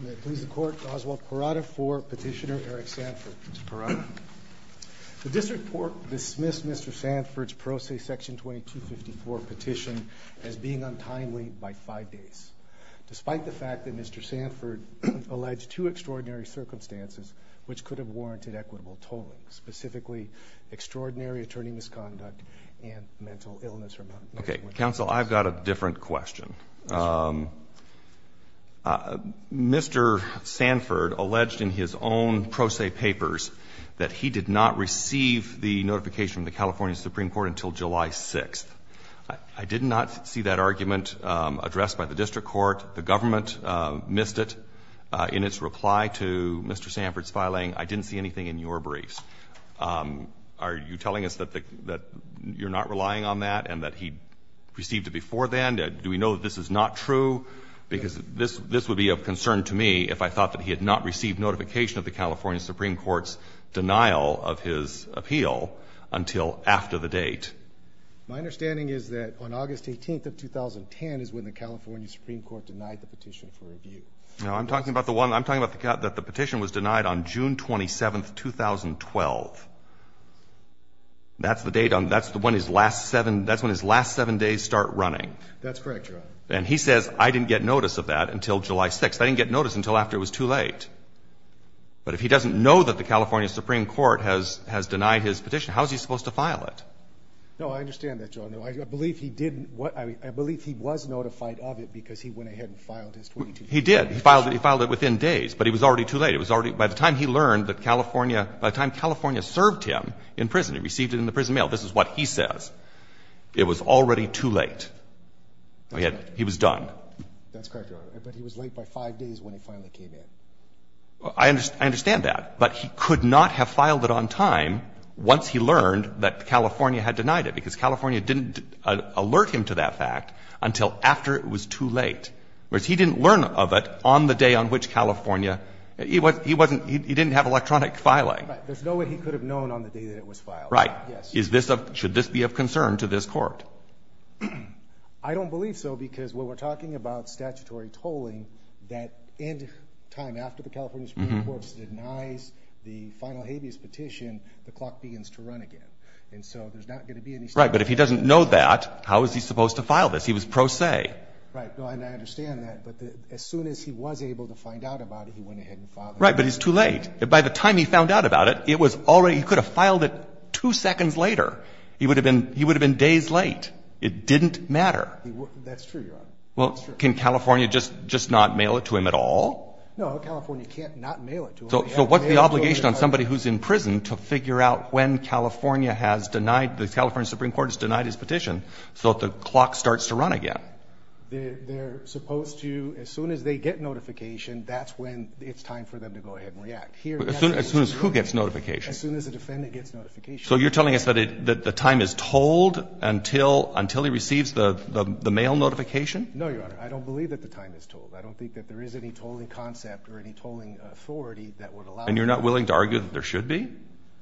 May it please the court, Oswald Parada for Petitioner Eric Sanford. Mr. Parada. The district court dismissed Mr. Sanford's Pro Se Section 2254 petition as being untimely by five days, despite the fact that Mr. Sanford alleged two extraordinary circumstances which could have warranted equitable tolling, specifically extraordinary attorney misconduct and mental illness. Okay, counsel, I've got a different question. Mr. Sanford alleged in his own Pro Se papers that he did not receive the notification of the California Supreme Court until July 6th. I did not see that argument addressed by the district court. The government missed it in its reply to Mr. Sanford's filing. I didn't see anything in your briefs. Are you telling us that you're not relying on that and that he received it before then? Do we know that this is not true? Because this would be of concern to me if I thought that he had not received notification of the California Supreme Court's denial of his appeal until after the date. My understanding is that on August 18th of 2010 is when the California Supreme Court denied the petition for review. No, I'm talking about the one the petition was denied on June 27th, 2012. That's the date on the one his last seven, that's when his last seven days start running. That's correct, Your Honor. And he says, I didn't get notice of that until July 6th. I didn't get notice until after it was too late. But if he doesn't know that the California Supreme Court has denied his petition, how is he supposed to file it? No, I understand that, Your Honor. I believe he didn't, I believe he was notified of it because he went ahead and filed his 22 days notice. He did. He filed it within days, but he was already too late. By the time he learned that California, by the time California served him in prison, he received it in the prison mail, this is what he says. It was already too late. He was done. That's correct, Your Honor. But he was late by five days when he finally came in. I understand that. But he could not have filed it on time once he learned that California had denied it, because California didn't alert him to that fact until after it was too late. Whereas he didn't learn of it on the day on which California, he wasn't, he didn't have electronic filing. Right. There's no way he could have known on the day that it was filed. Right. Yes. Is this a, should this be of concern to this Court? I don't believe so, because when we're talking about statutory tolling, that end time after the California Supreme Court denies the final habeas petition, the clock begins to run again. And so there's not going to be any statute. Right. But if he doesn't know that, how is he supposed to file this? He was pro se. Right. And I understand that. But as soon as he was able to find out about it, he went ahead and filed it. Right. But he's too late. By the time he found out about it, it was already, he could have filed it two seconds later. He would have been, he would have been days late. It didn't matter. That's true, Your Honor. Well, can California just, just not mail it to him at all? No, California can't not mail it to him. So what's the obligation on somebody who's in prison to figure out when California has denied, the California Supreme Court has denied his petition, so the clock starts to run again? They're supposed to, as soon as they get notification, that's when it's time for them to go ahead and react. As soon as who gets notification? As soon as the defendant gets notification. So you're telling us that the time is told until, until he receives the mail notification? No, Your Honor. I don't believe that the time is told. I don't think that there is any tolling concept or any tolling authority that would allow. And you're not willing to argue that there should be?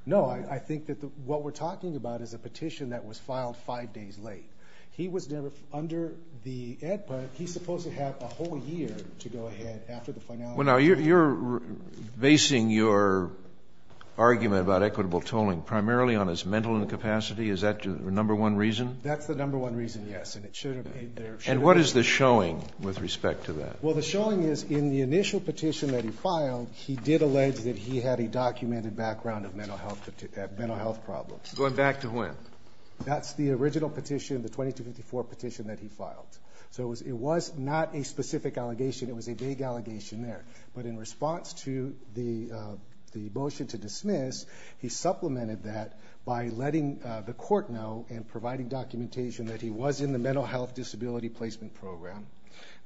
No, I think that what we're talking about is a petition that was filed five days late. He was never, under the EDPA, he's supposed to have a whole year to go ahead after the finality. Well, now you're, you're basing your argument about equitable tolling primarily on his mental incapacity. Is that your number one reason? That's the number one reason, yes. And it should have, there should have been. And what is the showing with respect to that? Well, the showing is in the initial petition that he filed, he did allege that he had a documented background of mental health, mental health problems. Going back to when? That's the original petition, the 2254 petition that he filed. So it was, it was not a specific allegation. It was a big allegation there. But in response to the, the motion to dismiss, he supplemented that by letting the court know and providing documentation that he was in the mental health disability placement program,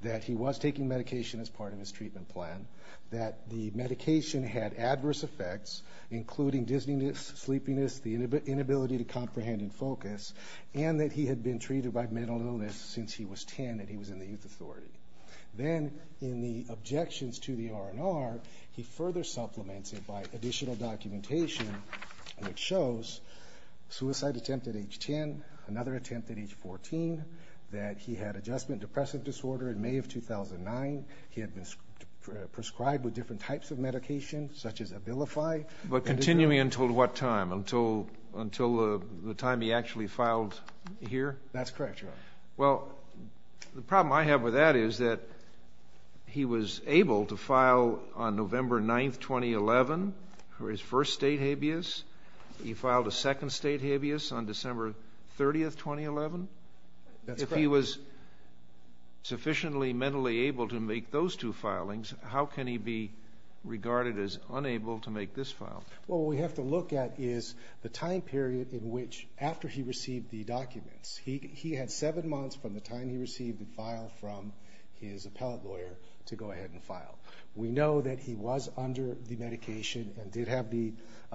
that he was taking medication as part of his treatment plan, that the medication had adverse effects, including dizziness, sleepiness, the inability to comprehend and focus, and that he had been treated by mental illness since he was 10 and he was in the youth authority. Then in the objections to the R&R, he further supplements it by additional documentation, which shows suicide attempt at age 10, another attempt at age 14, that he had adjustment depressive disorder in May of 2009. He had been prescribed with different types of medication, such as Abilify. But continuing until what time? Until, until the time he actually filed here? That's correct, Your Honor. Well, the problem I have with that is that he was able to file on November 9th, 2011 for his first state habeas. He filed a second state habeas on December 30th, 2011. If he was sufficiently mentally able to make those two filings, how can he be regarded as unable to make this file? Well, what we have to look at is the time period in which, after he received the documents, he had seven months from the time he received the file from his appellate lawyer to go ahead and file. We know that he was under the medication and did have the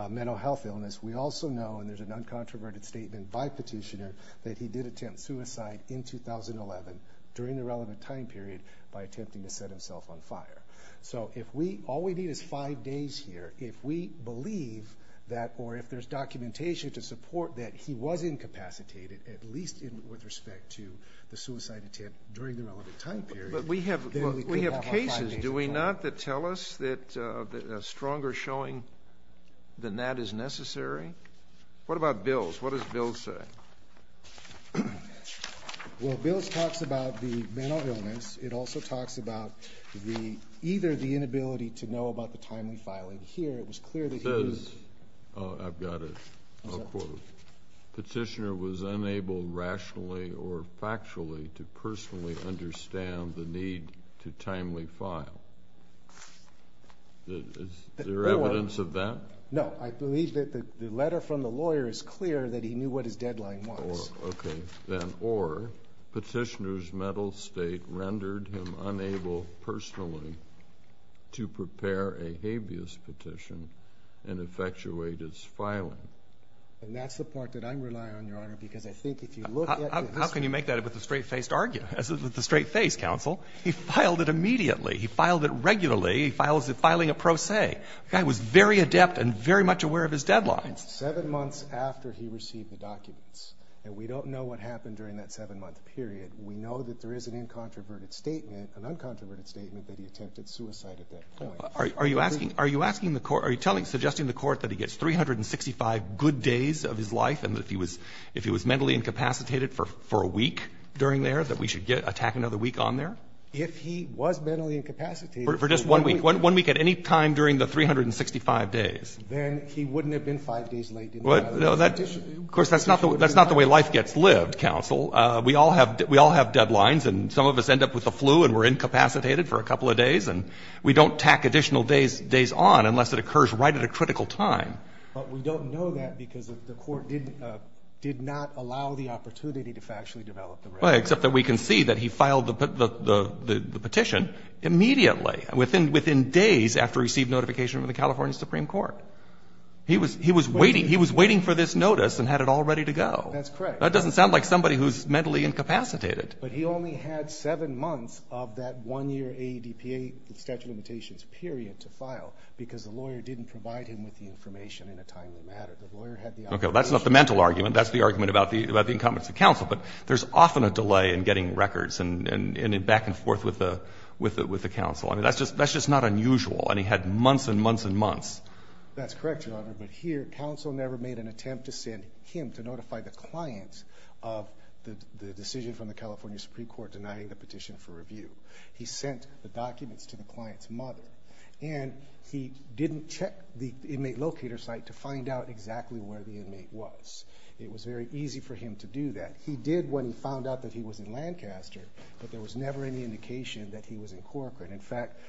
mental health illness. We also know, and there's an uncontroverted statement by petitioner, that he did attempt suicide in 2011 during the relevant time period by attempting to set himself on fire. So if we, all we need is five days here. If we believe that, or if there's documentation to support that he was incapacitated, at least in, with respect to the suicide attempt during the relevant time period, then we can have our five days at home. But we have, we have cases, do we not, that tell us that a stronger showing than that is necessary? What about Bills? What does Bills say? Well, Bills talks about the mental illness. It also talks about the, either the inability to know about the timely filing here. It was clear that he was... It says, I've got it, I'll quote, Petitioner was unable rationally or factually to personally understand the need to timely file. Is there evidence of that? No, I believe that the letter from the lawyer is clear that he knew what his deadline was. Or, okay, then, or Petitioner's mental state rendered him unable personally to prepare a habeas petition and effectuate his filing. And that's the part that I'm relying on, Your Honor, because I think if you look at... How can you make that with a straight-faced argument? As with the straight-faced counsel, he filed it immediately. He filed it regularly. He files it filing a pro se. The guy was very adept and very much aware of his deadlines. Seven months after he received the documents, and we don't know what happened during that seven-month period, we know that there is an incontroverted statement, an uncontroverted statement, that he attempted suicide at that point. Are you asking, are you asking the court, are you telling, suggesting the court that he gets 365 good days of his life and that if he was, if he was mentally incapacitated for a week during there, that we should get, attack another week on there? If he was mentally incapacitated... For just one week, one week at any time during the 365 days. Then he wouldn't have been five days late, didn't he? No, that, of course, that's not the, that's not the way life gets lived, counsel. We all have, we all have deadlines, and some of us end up with the flu and we're incapacitated for a couple of days, and we don't tack additional days, days on unless it occurs right at a critical time. But we don't know that because the court didn't, did not allow the opportunity to factually develop the record. Well, except that we can see that he filed the, the, the, the petition immediately, within, within days after he received notification from the California Supreme Court. He was, he was waiting, he was waiting for this notice and had it all ready to go. That's correct. That doesn't sound like somebody who's mentally incapacitated. But he only had seven months of that one year AEDPA statute of limitations period to file because the lawyer didn't provide him with the information in a timely matter. The lawyer had the... Okay, well, that's not the mental argument. That's the argument about the, about the incompetence of counsel. But there's often a delay in getting records and, and, and back and forth with the, with the, with the counsel. I mean, that's just, that's just not unusual. And he had months and months and months. That's correct, Your Honor. But here, counsel never made an attempt to send him to notify the client of the, the decision from the California Supreme Court denying the petition for review. He sent the documents to the client's mother and he didn't check the inmate locator site to find out exactly where the inmate was. It was very easy for him to do that. He did when he found out that he was in Lancaster, but there was never any indication that he was in Corcoran. In fact,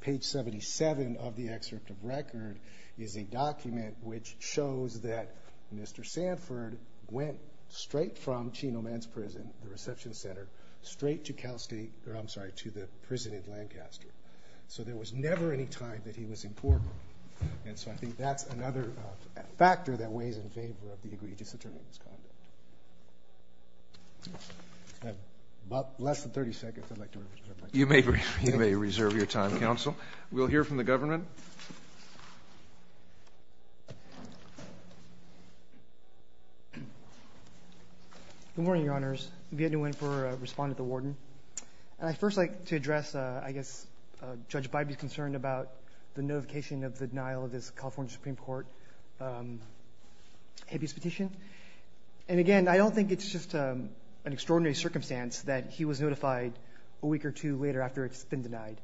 page 77 of the excerpt of record is a document which shows that Mr. Sanford went straight from Chino Men's Prison, the reception center, straight to Cal State, or I'm sorry, to the prison in Lancaster. So there was never any time that he was in Corcoran. And so I think that's another factor that weighs in favor of the egregious attorney's conduct. Less than 30 seconds. I'd like to reserve my time. You may, you may reserve your time, counsel. We'll hear from the government. Good morning, Your Honors. Viet Nguyen for Respondent at the Warden. And I'd first like to address, I guess, Judge Bybee's concern about the notification of the denial of this California Supreme Court habeas petition. And again, I don't think it's just an extraordinary circumstance that he was notified a week or two later after it's been denied.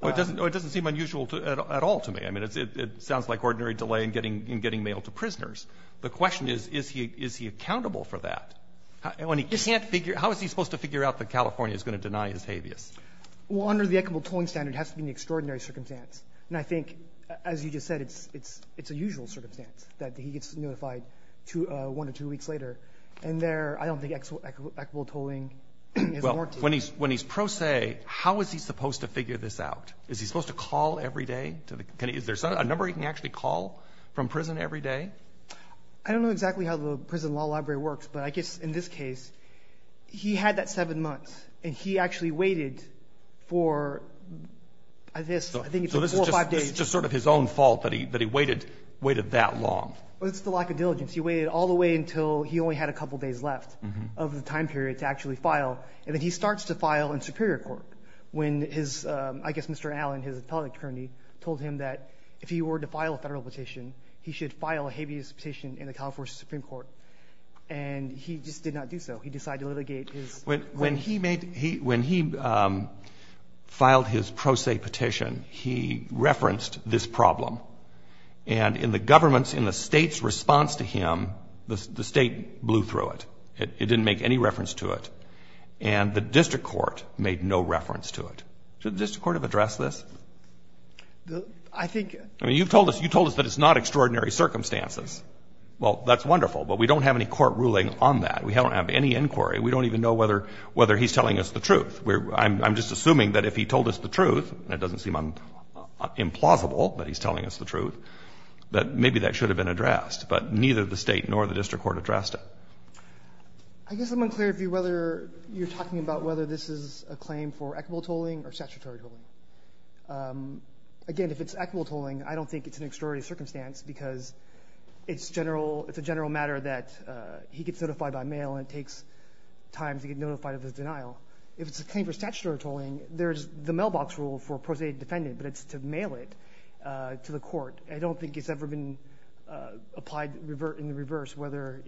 Well, it doesn't, it doesn't seem unusual at all to me. I mean, it sounds like ordinary delay in getting, in getting mailed to prisoners. The question is, is he, is he accountable for that? When he can't figure, how is he supposed to figure out that California is going to deny his habeas? Well, under the equitable tolling standard, it has to be an extraordinary circumstance. And I think, as you just said, it's, it's, it's a usual circumstance that he gets notified one or two weeks later. And there, I don't think equitable tolling is warranted. When he's, when he's pro se, how is he supposed to figure this out? Is he supposed to call every day to the, can he, is there a number he can actually call from prison every day? I don't know exactly how the prison law library works, but I guess in this case, he had that seven months and he actually waited for, I guess, I think four or five days. Just sort of his own fault that he, that he waited, waited that long. Well, it's the lack of diligence. He waited all the way until he only had a couple of days left of the time period to actually file. And then he starts to file in Superior Court when his, I guess Mr. Allen, his appellate attorney, told him that if he were to file a Federal petition, he should file a habeas petition in the California Supreme Court. And he just did not do so. He decided to litigate his claim. When he made, when he filed his pro se petition, he referenced this problem. And in the government's, in the State's response to him, the State blew through it. It didn't make any reference to it. And the district court made no reference to it. Should the district court have addressed this? The, I think, I mean, you've told us, you told us that it's not extraordinary circumstances. Well, that's wonderful, but we don't have any court ruling on that. We don't have any inquiry. We don't even know whether, whether he's telling us the truth. We're, I'm just assuming that if he told us the truth, and it doesn't seem implausible that he's telling us the truth, that maybe that should have been addressed. But neither the State nor the district court addressed it. I guess I'm unclear if you, whether you're talking about whether this is a claim for equitable tolling or statutory tolling. Again, if it's equitable tolling, I don't think it's an extraordinary circumstance because it's general, it's a general matter that he gets notified by mail and it takes time to get notified of his denial. If it's a claim for statutory tolling, there's the mailbox rule for a pro se defendant, but it's to mail it to the court. I don't think it's ever been applied in the reverse, whether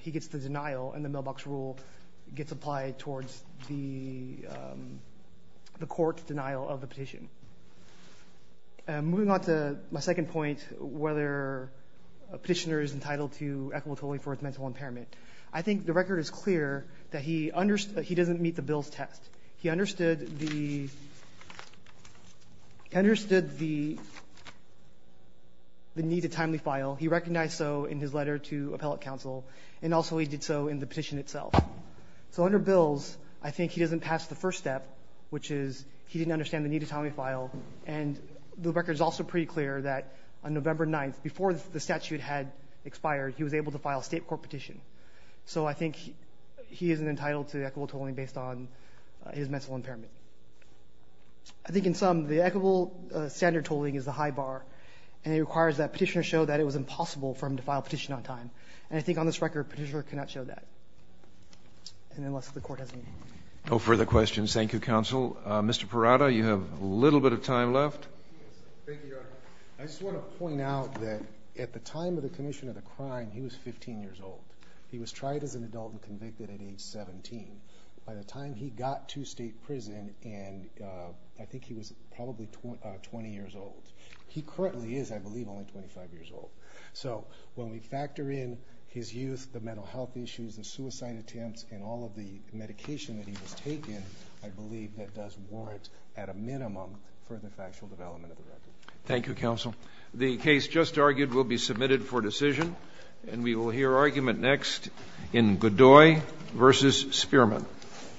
he gets the denial and the mailbox rule gets applied towards the, the court's denial of the petition. Moving on to my second point, whether a petitioner is entitled to equitable tolling for his mental impairment. I think the record is clear that he, he doesn't meet the bill's test. He understood the, understood the, the need to timely file. He recognized so in his letter to appellate counsel, and also he did so in the petition itself. So under bills, I think he doesn't pass the first step, which is he didn't understand the need to timely file. And the record is also pretty clear that on November 9th, before the statute had expired, he was able to file a state court petition. So I think he isn't entitled to equitable tolling based on his mental impairment. I think in sum, the equitable standard tolling is the high bar and it requires that petitioner show that it was impossible for him to file a petition on time. And I think on this record, petitioner cannot show that. And unless the court has a meeting. No further questions. Thank you, counsel. Mr. Parada, you have a little bit of time left. I just want to point out that at the time of the commission of the crime, he was 15 years old. He was tried as an adult and convicted at age 17. By the time he got to state prison, and I think he was probably 20 years old. He currently is, I believe, only 25 years old. So when we factor in his youth, the mental health issues, the suicide attempts, and all of the medication that he was taken, I believe that does warrant at a minimum further factual development of the record. Thank you, counsel. The case just argued will be submitted for decision. And we will hear argument next in Godoy versus Spearman.